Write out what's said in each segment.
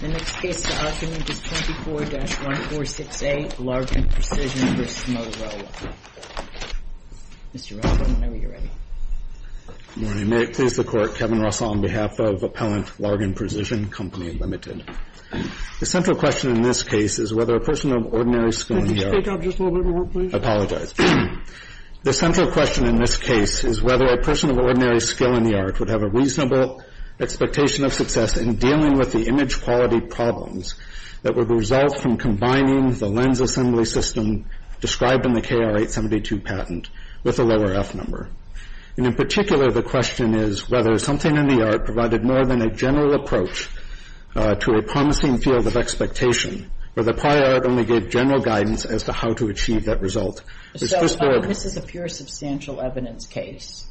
The next case to us is 24-146A, Largan Precision v. Motorola. Mr. Russell, whenever you're ready. Good morning. May it please the Court, Kevin Russell on behalf of Appellant Largan Precision Co., Ltd. The central question in this case is whether a person of ordinary skill in the art Could you speak up just a little bit more, please? I apologize. The central question in this case is whether a person of ordinary skill in the art Would have a reasonable expectation of success in dealing with the image quality problems That would result from combining the lens assembly system described in the KR-872 patent With a lower F number. And in particular, the question is whether something in the art provided more than a general approach To a promising field of expectation, where the prior art only gave general guidance As to how to achieve that result. So this is a pure substantial evidence case.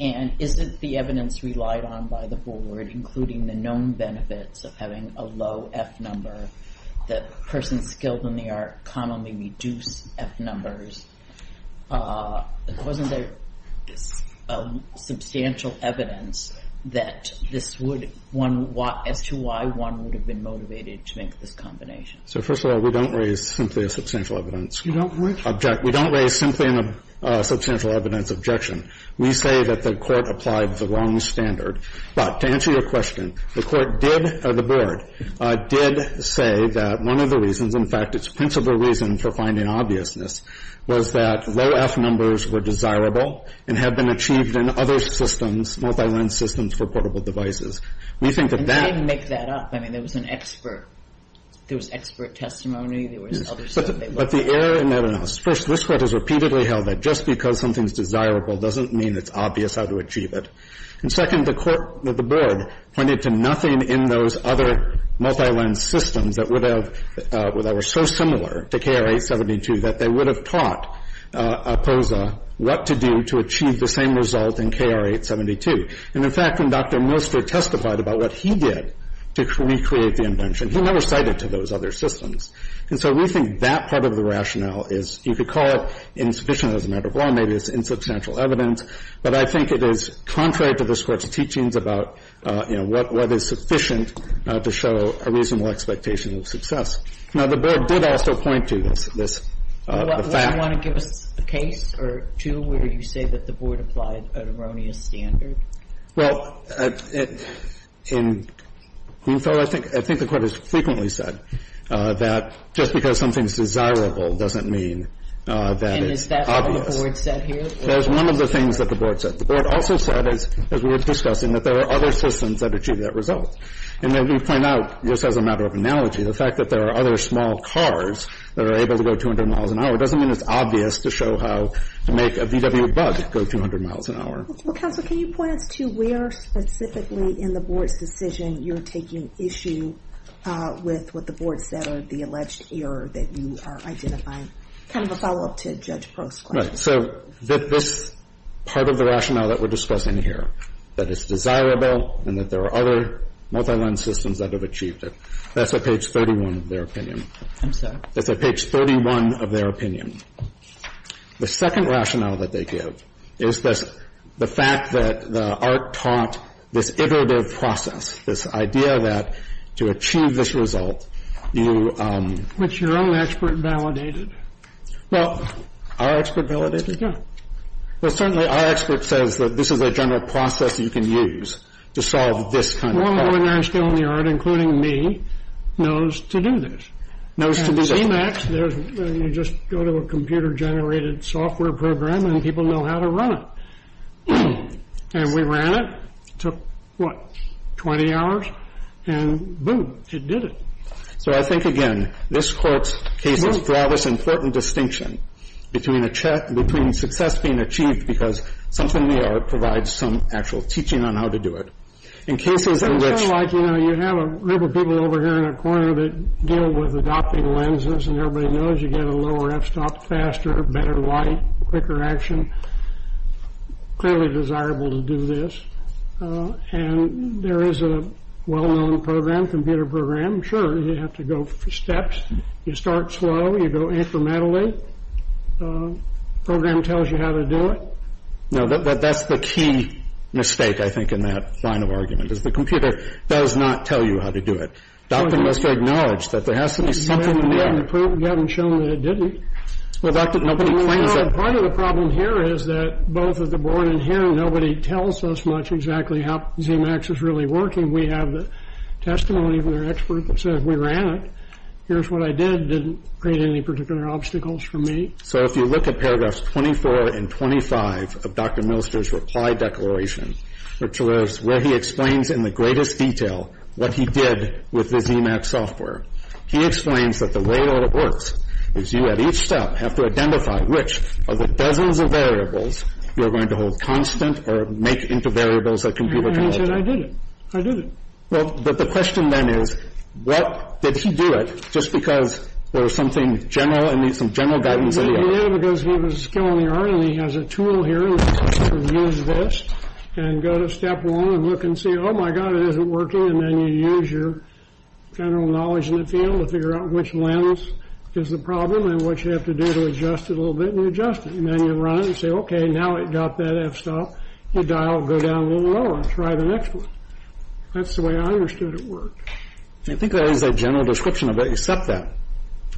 And isn't the evidence relied on by the Board, including the known benefits of having a low F number That persons skilled in the art commonly reduce F numbers Wasn't there substantial evidence that this would As to why one would have been motivated to make this combination? So first of all, we don't raise simply a substantial evidence. We don't raise simply a substantial evidence objection. We say that the Court applied the wrong standard. But to answer your question, the Court did, or the Board, did say that one of the reasons In fact, its principal reason for finding obviousness Was that low F numbers were desirable and had been achieved in other systems Multi-lens systems for portable devices. We think that that And they didn't make that up. I mean, there was an expert. There was expert testimony. But the error in that analysis. First, this Court has repeatedly held that just because something is desirable Doesn't mean it's obvious how to achieve it. And second, the Court, the Board, pointed to nothing in those other multi-lens systems That would have, that were so similar to KR-872 That they would have taught POSA what to do to achieve the same result in KR-872. And in fact, when Dr. Milster testified about what he did to recreate the invention He never cited to those other systems. And so we think that part of the rationale is, you could call it insufficient As a matter of law. Maybe it's insubstantial evidence. But I think it is contrary to this Court's teachings about, you know, what is sufficient To show a reasonable expectation of success. Now, the Board did also point to this fact. Do you want to give us a case or two where you say that the Board applied an erroneous Standard? Well, I think the Court has frequently said that just because something is desirable Doesn't mean that it's obvious. And is that what the Board said here? That is one of the things that the Board said. The Board also said, as we were discussing, that there are other systems that achieve That result. And then we point out, just as a matter of analogy, the fact that there are other Small cars that are able to go 200 miles an hour doesn't mean it's obvious to show How to make a VW Bug go 200 miles an hour. Well, Counselor, can you point us to where specifically in the Board's decision You're taking issue with what the Board said or the alleged error that you are identifying? Kind of a follow-up to Judge Prost's question. Right. So this part of the rationale that we're discussing here, that it's desirable And that there are other multi-line systems that have achieved it, that's at page 31 Of their opinion. I'm sorry. That's at page 31 of their opinion. The second rationale that they give is the fact that ARC taught this iterative process, This idea that to achieve this result, you... Which your own expert validated. Well... Our expert validated? Yeah. Well, certainly our expert says that this is a general process you can use to solve this kind of problem. One woman I know in the ARC, including me, knows to do this. Knows to do this. You just go to a computer-generated software program and people know how to run it. And we ran it. Took, what, 20 hours? And, boom, it did it. So I think, again, this court's cases draw this important distinction Between success being achieved because something we are provides some actual teaching on how to do it. In cases in which... As everybody knows, you get a lower f-stop, faster, better light, quicker action. Clearly desirable to do this. And there is a well-known program, computer program. Sure, you have to go for steps. You start slow. You go incrementally. Program tells you how to do it. No, that's the key mistake, I think, in that line of argument, Is the computer does not tell you how to do it. Dr. Milster acknowledged that there has to be something in there. We haven't shown that it didn't. Well, Dr., nobody claims that... Well, part of the problem here is that both of the board and him, Nobody tells us much exactly how ZMAX is really working. We have the testimony from their expert that says we ran it. Here's what I did. Didn't create any particular obstacles for me. So if you look at paragraphs 24 and 25 of Dr. Milster's reply declaration, Which was where he explains in the greatest detail what he did with the ZMAX software. He explains that the way it all works is you, at each step, Have to identify which of the dozens of variables you're going to hold constant Or make into variables that computer can look at. And he said, I did it. I did it. Well, but the question, then, is what did he do it, Just because there was something general, I mean, some general guidance that he had. Well, he did it because he was skill in the art, and he has a tool here. You can use this and go to step one and look and see, oh, my God, it isn't working. And then you use your general knowledge in the field to figure out which lens is the problem And what you have to do to adjust it a little bit, and you adjust it. And then you run it and say, okay, now it got that f-stop. You dial, go down a little lower and try the next one. That's the way I understood it worked. I think that is a general description of it, except that.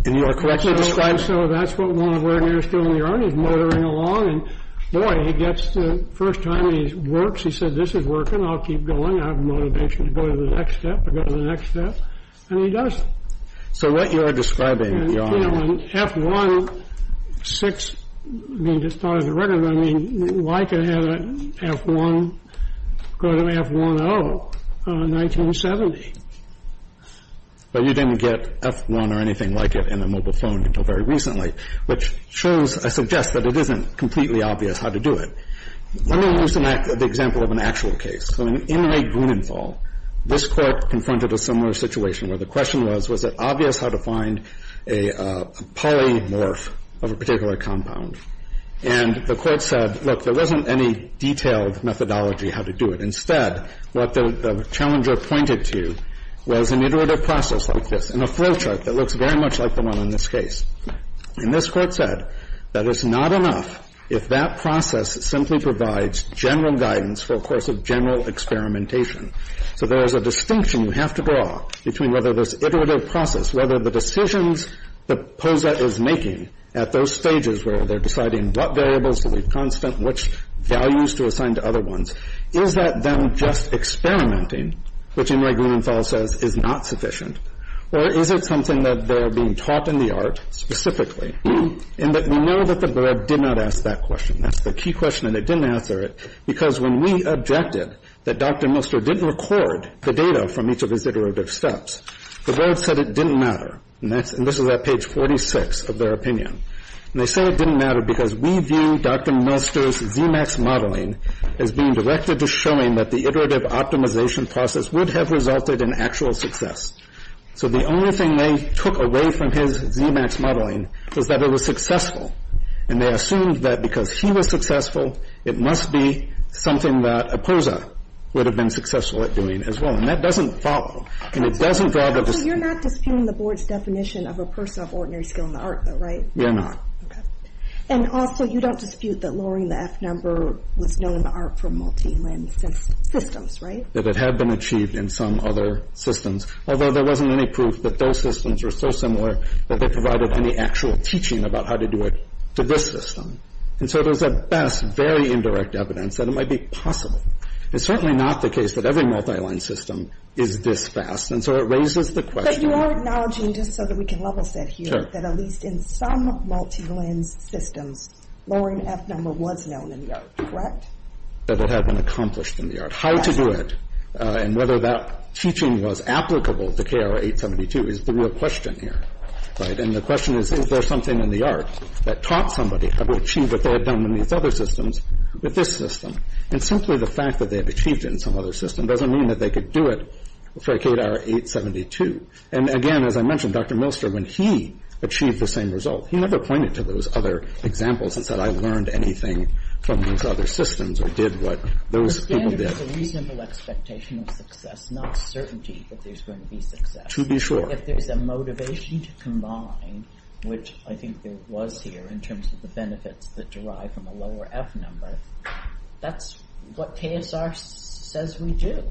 And you are correct to describe. And so that's what one of the ordinators still in the art is motoring along. And, boy, he gets to the first time he works. He said, this is working. I'll keep going. I have motivation to go to the next step, to go to the next step. And he does. So what you are describing, Your Honor. You know, an F-1-6, I mean, just as a record, I mean, why could I have an F-1 go to an F-1-0 in 1970? But you didn't get F-1 or anything like it in a mobile phone until very recently, which shows, I suggest, that it isn't completely obvious how to do it. Let me use the example of an actual case. In Inmate Grunenfall, this Court confronted a similar situation where the question was, was it obvious how to find a polymorph of a particular compound? And the Court said, look, there wasn't any detailed methodology how to do it. Instead, what the challenger pointed to was an iterative process like this and a flow chart that looks very much like the one in this case. And this Court said that it's not enough if that process simply provides general guidance for a course of general experimentation. So there is a distinction you have to draw between whether this iterative process, whether the decisions that POSA is making at those stages where they're deciding what variables to leave constant, which values to assign to other ones, is that then just experimenting, which Inmate Grunenfall says is not sufficient, or is it something that they're being taught in the art specifically, in that we know that the board did not ask that question. That's the key question, and it didn't answer it, because when we objected that Dr. Milster didn't record the data from each of his iterative steps, the board said it didn't matter. And that's – and this is at page 46 of their opinion. And they said it didn't matter because we view Dr. Milster's ZMAX modeling as being directed to showing that the iterative optimization process would have resulted in actual success. So the only thing they took away from his ZMAX modeling was that it was successful, and they assumed that because he was successful, it must be something that a POSA would have been successful at doing as well. And that doesn't follow, and it doesn't draw the – So you're not disputing the board's definition of a person of ordinary skill in the field? Okay. And also, you don't dispute that lowering the F number was known art for multiline systems, right? That it had been achieved in some other systems, although there wasn't any proof that those systems were so similar that they provided any actual teaching about how to do it to this system. And so there's at best very indirect evidence that it might be possible. It's certainly not the case that every multiline system is this fast, and so it raises the question – But you are acknowledging, just so that we can level set here, that at least in some multiline systems, lowering F number was known in the art, correct? That it had been accomplished in the art. How to do it and whether that teaching was applicable to KR 872 is the real question here, right? And the question is, is there something in the art that taught somebody how to achieve what they had done in these other systems with this system? And simply the fact that they have achieved it in some other system doesn't mean that they could do it for KR 872. And again, as I mentioned, Dr. Milster, when he achieved the same result, he never pointed to those other examples and said, I learned anything from these other systems or did what those people did. The standard is a reasonable expectation of success, not certainty that there's going to be success. To be sure. If there's a motivation to combine, which I think there was here in terms of the benefits that derive from a lower F number, that's what KSR says we do.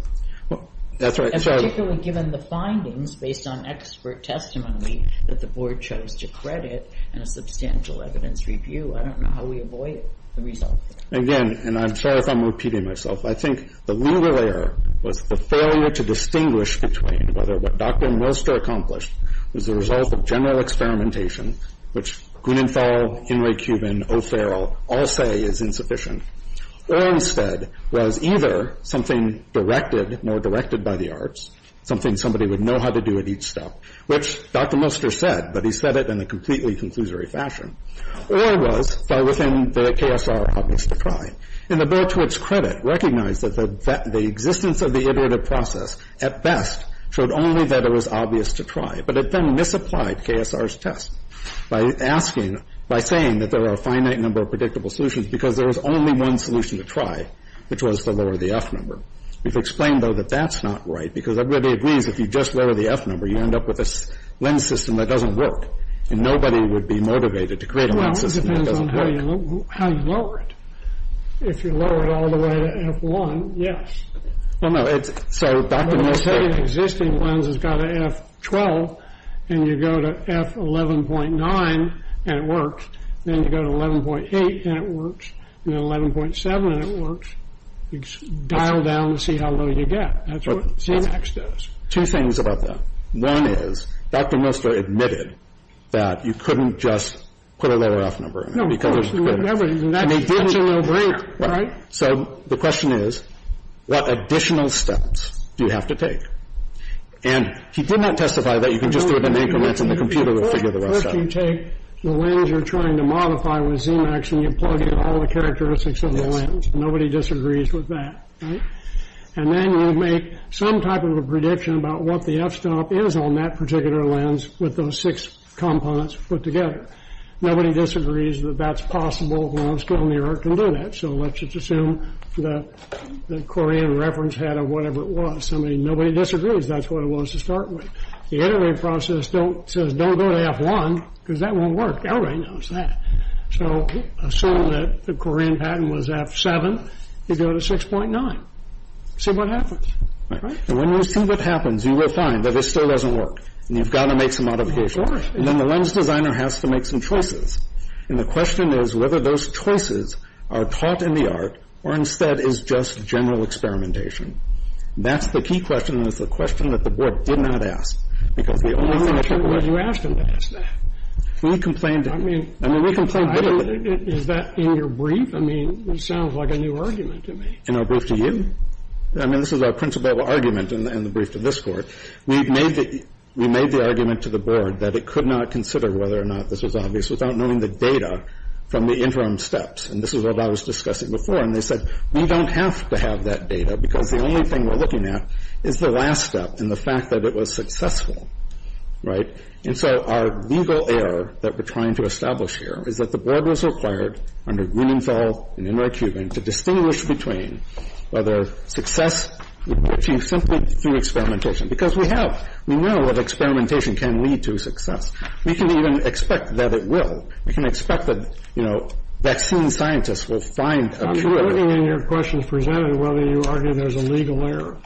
And particularly given the findings based on expert testimony that the board chose to credit and a substantial evidence review, I don't know how we avoid the result. Again, and I'm sorry if I'm repeating myself, I think the legal error was the failure to distinguish between whether what Dr. Milster accomplished was the result of general experimentation, which Gunenthal, Inouye Cuban, O'Farrell all say is insufficient, or instead was either something directed, more directed by the arts, something somebody would know how to do at each step, which Dr. Milster said, but he said it in a completely conclusory fashion, or was far within the KSR obvious to try. And the board, to its credit, recognized that the existence of the iterative process, at best, showed only that it was obvious to try, but it then misapplied KSR's test by asking, by saying that there are a finite number of solutions, because there was only one solution to try, which was to lower the F number. It's explained, though, that that's not right, because everybody agrees that if you just lower the F number, you end up with a lens system that doesn't work. And nobody would be motivated to create a lens system that doesn't work. Well, it depends on how you lower it. If you lower it all the way to F1, yes. Well, no, it's, so Dr. Milster When you say an existing lens has got a F12, and you go to F11.9, and it works, and F11.7, and it works, you dial down to see how low you get. That's what ZMAX does. Two things about that. One is, Dr. Milster admitted that you couldn't just put a lower F number in there, because there's a limit. And that's a no-brainer, right? So the question is, what additional steps do you have to take? And he did not testify that you can just do it in increments, and the computer will figure the rest out. You take the lens you're trying to modify with ZMAX, and you plug in all the characteristics of the lens. Nobody disagrees with that, right? And then you make some type of a prediction about what the F-stop is on that particular lens, with those six components put together. Nobody disagrees that that's possible. Low-skill New York can do that. So let's just assume that the Korean reference had a whatever it was. I mean, nobody disagrees. That's what it was to start with. The iterative process says don't go to F1, because that won't work. Everybody knows that. So assume that the Korean pattern was F7. You go to 6.9. See what happens. Right? And when you see what happens, you will find that it still doesn't work. And you've got to make some modifications. Of course. And then the lens designer has to make some choices. And the question is whether those choices are taught in the art, or instead is just general experimentation. That's the key question. And it's the question that the Board did not ask. Because the only thing that the Board... Why would you ask them to ask that? We complained... I mean... I mean, we complained... Is that in your brief? I mean, it sounds like a new argument to me. In our brief to you? I mean, this is our principal argument in the brief to this Court. We made the argument to the Board that it could not consider whether or not this was obvious without knowing the data from the interim steps. And this is what I was discussing before. And they said, we don't have to have that data, because the only thing we're looking at is the last step and the fact that it was successful. Right? And so our legal error that we're trying to establish here is that the Board was required under Grunenthal and Inouye-Cuban to distinguish between whether success would be achieved simply through experimentation. Because we have... We know that experimentation can lead to success. We can even expect that it will. We can expect that, you know, vaccine scientists will find a cure... I'm wondering in your questions presented whether you argue there's a legal error.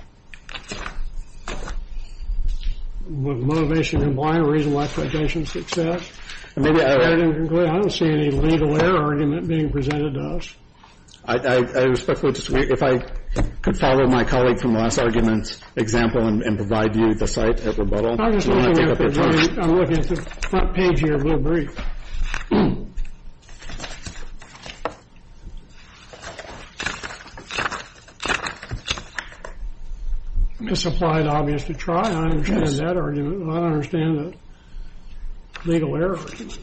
With motivation and blind reason, lack of attention, success. Maybe I... I don't see any legal error argument being presented to us. I respectfully disagree. If I could follow my colleague from the last argument's example and provide you the site at rebuttal... I'm just looking at the... You want to take up your question? I'm looking at the front page here, a little brief. Misapplied, obvious to try. I understand that argument. I don't understand the legal error argument.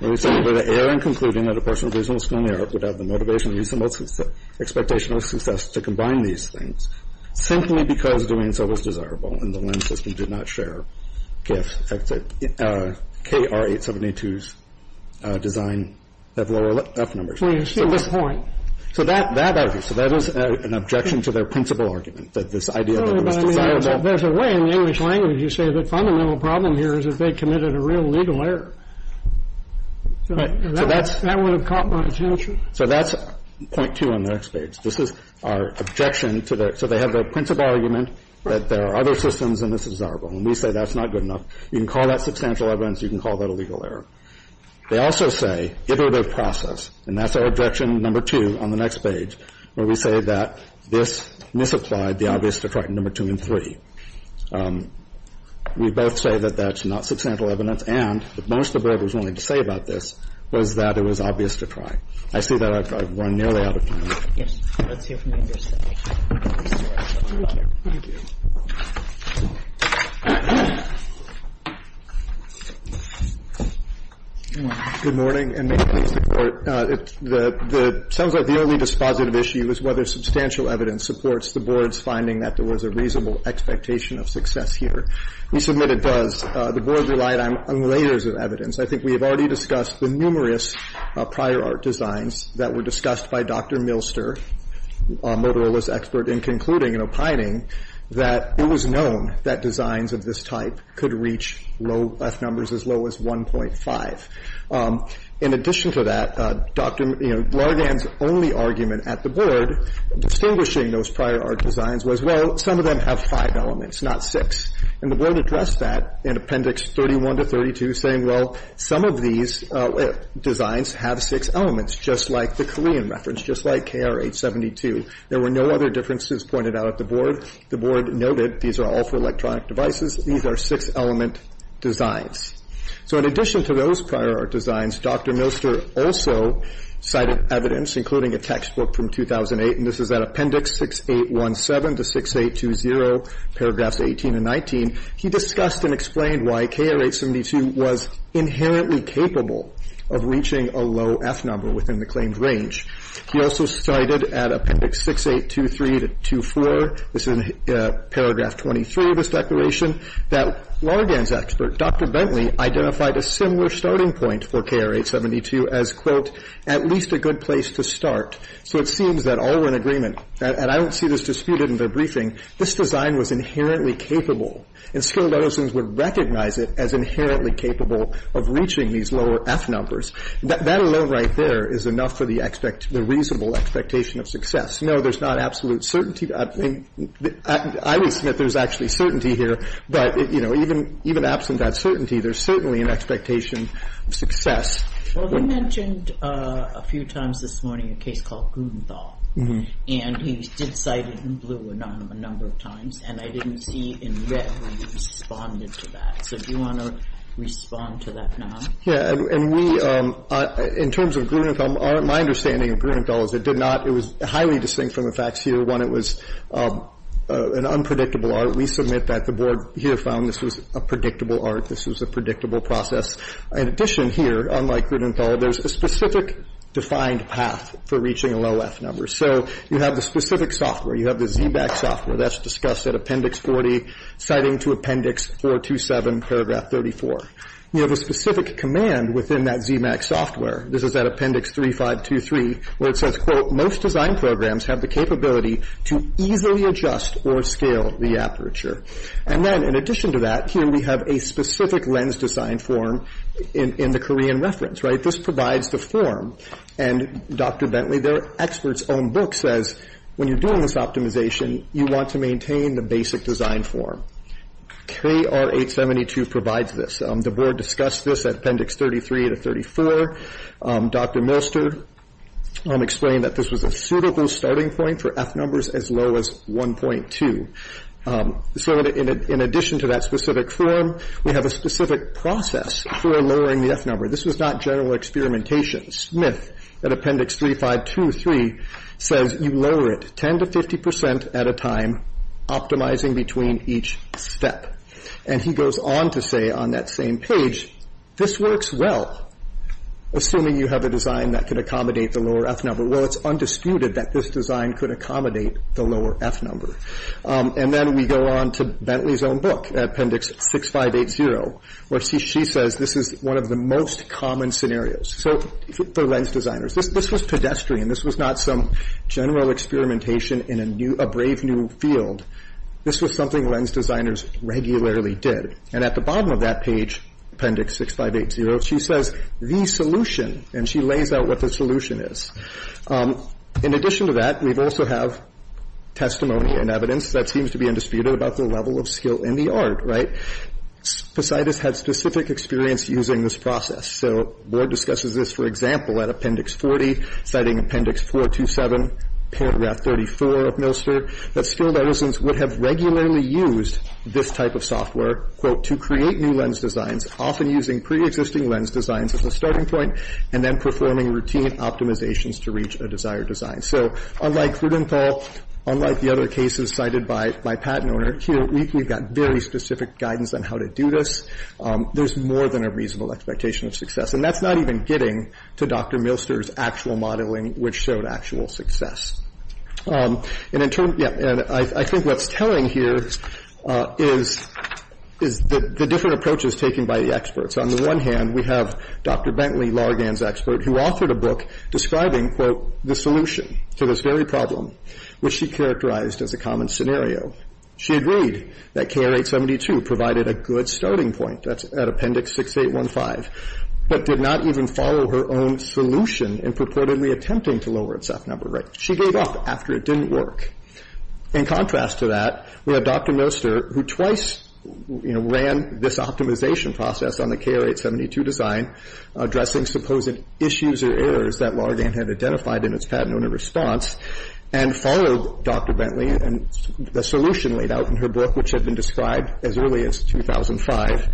Well, you said, with the error in concluding that a person with reasonable skill and merit would have the motivation and reasonable expectation of success to combine these things simply because doing so was desirable and the LEND system did not share gifts. KR-872's design have lower F numbers. Well, you see this point. So that is an objection to their principal argument, that this idea that it was desirable... There's a way in the English language you say the fundamental problem here is that they committed a real legal error. So that's... That would have caught my attention. So that's point two on the next page. This is our objection to the... That there are other systems and it's desirable. And we say that's not good enough. You can call that substantial evidence. You can call that a legal error. They also say iterative process, and that's our objection number two on the next page, where we say that this misapplied the obvious to try number two and three. We both say that that's not substantial evidence and that most of what I was wanting to say about this was that it was obvious to try. I see that I've run nearly out of time. Yes. Let's hear from the other side. Good morning. And may I please report the... Sounds like the only dispositive issue is whether substantial evidence supports the Board's finding that there was a reasonable expectation of success here. We submit it does. The Board relied on layers of evidence. I think we have already discussed the numerous prior art designs that were discussed by Dr. Milster, Motorola's expert, in concluding and opining that it was known that designs of this type could reach F numbers as low as 1.5. In addition to that, Dr. Largan's only argument at the Board, distinguishing those prior art designs was, well, some of them have five elements, not six. And the Board addressed that in Appendix 31 to 32, saying, well, some of these designs have six elements, just like the Korean reference, just like KR-872. There were no other differences pointed out at the Board. The Board noted these are all for electronic devices. These are six-element designs. So in addition to those prior art designs, Dr. Milster also cited evidence, including a textbook from 2008, and this is at Appendix 6817 to 6820, paragraphs 18 and 19. He discussed and explained why KR-872 was inherently capable of reaching a low F number within the claimed range. He also cited at Appendix 6823 to 64, this is in paragraph 23 of his declaration, that Largan's expert, Dr. Bentley, identified a similar starting point for KR-872 as, quote, at least a good place to start. So it seems that all were in agreement. And I don't see this disputed in their briefing. This design was inherently capable, and skilled artisans would recognize it as inherently capable of reaching these lower F numbers. That alone right there is enough for the reasonable expectation of success. No, there's not absolute certainty. I would submit there's actually certainty here. But, you know, even absent that certainty, there's certainly an expectation of success. Well, you mentioned a few times this morning a case called Grunenthal. And he did cite it in blue a number of times. And I didn't see in red when he responded to that. So do you want to respond to that now? Yeah. And we, in terms of Grunenthal, my understanding of Grunenthal is it did not, it was highly distinct from the facts here. One, it was an unpredictable art. We submit that the Board here found this was a predictable art, this was a predictable process. In addition here, unlike Grunenthal, there's a specific defined path for reaching low F numbers. So you have the specific software. You have the ZBAC software. That's discussed at Appendix 40, citing to Appendix 427, Paragraph 34. You have a specific command within that ZBAC software. This is at Appendix 3523, where it says, quote, most design programs have the capability to easily adjust or scale the aperture. And then, in addition to that, here we have a specific lens design form in the Korean reference, right? This provides the form. And Dr. Bentley, their expert's own book says, when you're doing this optimization, you want to maintain the basic design form. KR 872 provides this. The Board discussed this at Appendix 33 to 34. Dr. Molster explained that this was a suitable starting point for F numbers as low as 1.2. So in addition to that specific form, we have a specific process for lowering the F number. This was not general experimentation. Smith, at Appendix 3523, says you lower it 10 to 50 percent at a time, optimizing between each step. And he goes on to say on that same page, this works well, assuming you have a design that can accommodate the lower F number. Well, it's undisputed that this design could accommodate the lower F number. And then we go on to Bentley's own book, Appendix 6580, where she says this is one of the most common scenarios. So for lens designers, this was pedestrian. This was not some general experimentation in a brave new field. This was something lens designers regularly did. And at the bottom of that page, Appendix 6580, she says the solution, and she lays out what the solution is. In addition to that, we also have testimony and evidence that seems to be undisputed about the level of skill in the art. Posidas had specific experience using this process. So the Board discusses this, for example, at Appendix 40, citing Appendix 427, paragraph 34 of Milster, that skilled artisans would have regularly used this type of software, quote, to create new lens designs, often using preexisting lens designs as a starting point and then performing routine optimizations to reach a desired design. So unlike Cludental, unlike the other cases cited by my patent owner, here we've got very specific guidance on how to do this. There's more than a reasonable expectation of success. And that's not even getting to Dr. Milster's actual modeling, which showed actual success. And I think what's telling here is the different approaches taken by the experts. On the one hand, we have Dr. Bentley, Largan's expert, who authored a book describing, quote, the solution to this very problem, which she characterized as a common scenario. She agreed that KR 872 provided a good starting point, that's at Appendix 6815, but did not even follow her own solution in purportedly attempting to lower its F number rate. She gave up after it didn't work. In contrast to that, we have Dr. Milster, who twice, you know, ran this optimization process on the KR 872 design, addressing supposed issues or errors that Largan had identified in its patent owner response, and followed Dr. Bentley and the solution laid out in her book, which had been described as early as 2005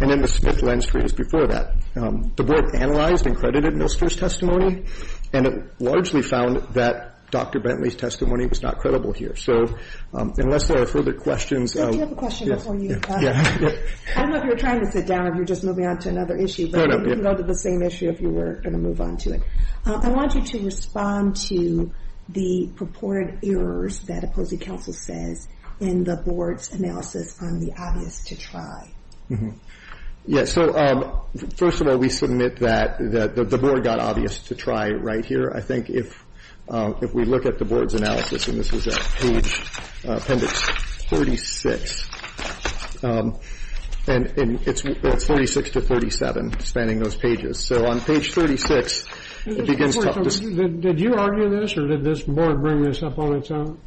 and in the Smith lens freeze before that. The board analyzed and credited Milster's testimony, and it largely found that Dr. Bentley's testimony was not credible here. So unless there are further questions. Do you have a question before you? Yeah. I don't know if you're trying to sit down or if you're just moving on to another issue, but you can go to the same issue if you were going to move on to it. I want you to respond to the purported errors that Opposing Counsel says in the board's analysis on the obvious to try. Yes. So first of all, we submit that the board got obvious to try right here. I think if we look at the board's analysis, and this is page appendix 36, and it's 46 to 37, spanning those pages. So on page 36, it begins to talk to us. Did you argue this or did this board bring this up on its own?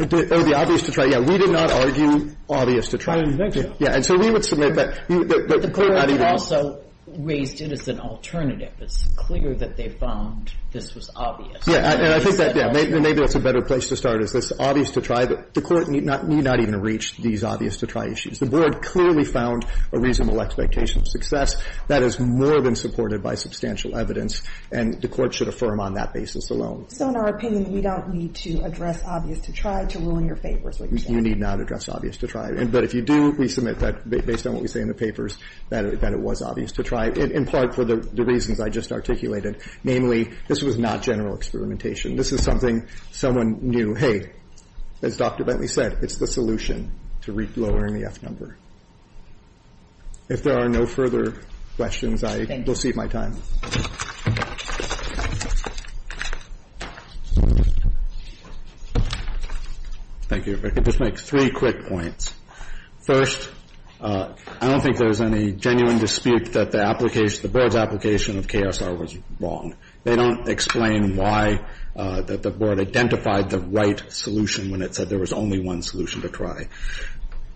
Oh, the obvious to try. Yeah, we did not argue obvious to try. I didn't think so. And so we would submit that. The board also raised it as an alternative. It's clear that they found this was obvious. Yeah. And I think that, yeah, maybe that's a better place to start is this obvious to try. The Court need not even reach these obvious to try issues. The board clearly found a reasonable expectation of success. That is more than supported by substantial evidence, and the Court should affirm on that basis alone. So in our opinion, we don't need to address obvious to try to rule in your favor, is what you're saying. You need not address obvious to try. But if you do, we submit that, based on what we say in the papers, that it was obvious to try, in part for the reasons I just articulated. Namely, this was not general experimentation. This is something someone knew, hey, as Dr. Bentley said, it's the solution to lowering the F number. If there are no further questions, I will cede my time. Thank you. I just want to make three quick points. First, I don't think there's any genuine dispute that the application, the board's application of KSR was wrong. They don't explain why the board identified the right solution when it said there was only one solution to try.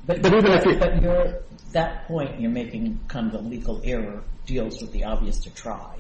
But even if you – But your – that point, you're making kind of a legal error, deals with the obvious to try,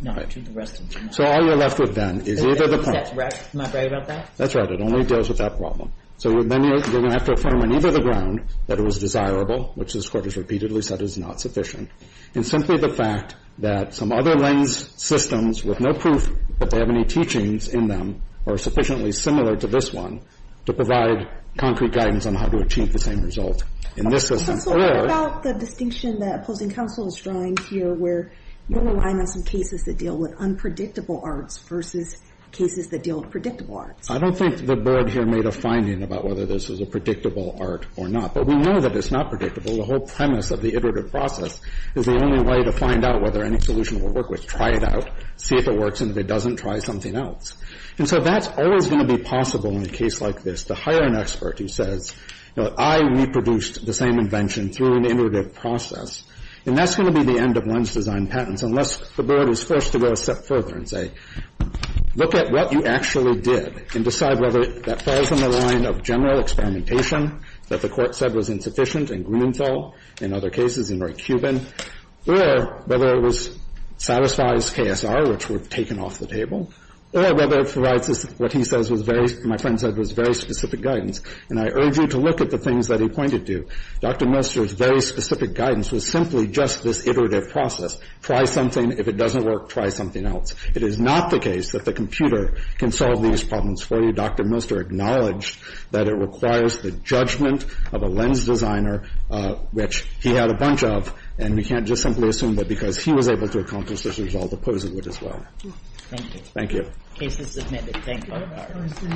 not to the rest of them. So all you're left with then is either the point – Am I right about that? That's right. It only deals with that problem. So then you're going to have to affirm on either the ground that it was desirable, which this Court has repeatedly said is not sufficient, and simply the fact that some other lens systems with no proof that they have any teachings in them are sufficiently similar to this one to provide concrete guidance on how to achieve the same result. And this is – Counsel, what about the distinction that opposing counsel is drawing here, where you're relying on some cases that deal with unpredictable arts versus cases that deal with predictable arts? I don't think the board here made a finding about whether this is a predictable art or not. But we know that it's not predictable. The whole premise of the iterative process is the only way to find out whether any solution will work, which try it out, see if it works, and if it doesn't, try something else. And so that's always going to be possible in a case like this, to hire an expert who says, you know, I reproduced the same invention through an iterative process. And that's going to be the end of lens design patents, unless the board is forced to go a step further and say, look at what you actually did and decide whether that falls in the line of general experimentation that the court said was insufficient and gruenthal in other cases, in right Cuban, or whether it was satisfies KSR, which would have taken off the table, or whether it provides what he says was very – my friend said was very specific guidance. And I urge you to look at the things that he pointed to. Dr. Muster's very specific guidance was simply just this iterative process. Try something. If it doesn't work, try something else. It is not the case that the computer can solve these problems for you. Dr. Muster acknowledged that it requires the judgment of a lens designer, which he had a bunch of. And we can't just simply assume that because he was able to accomplish this result, opposed would as well. Thank you. The case is submitted. Thank you.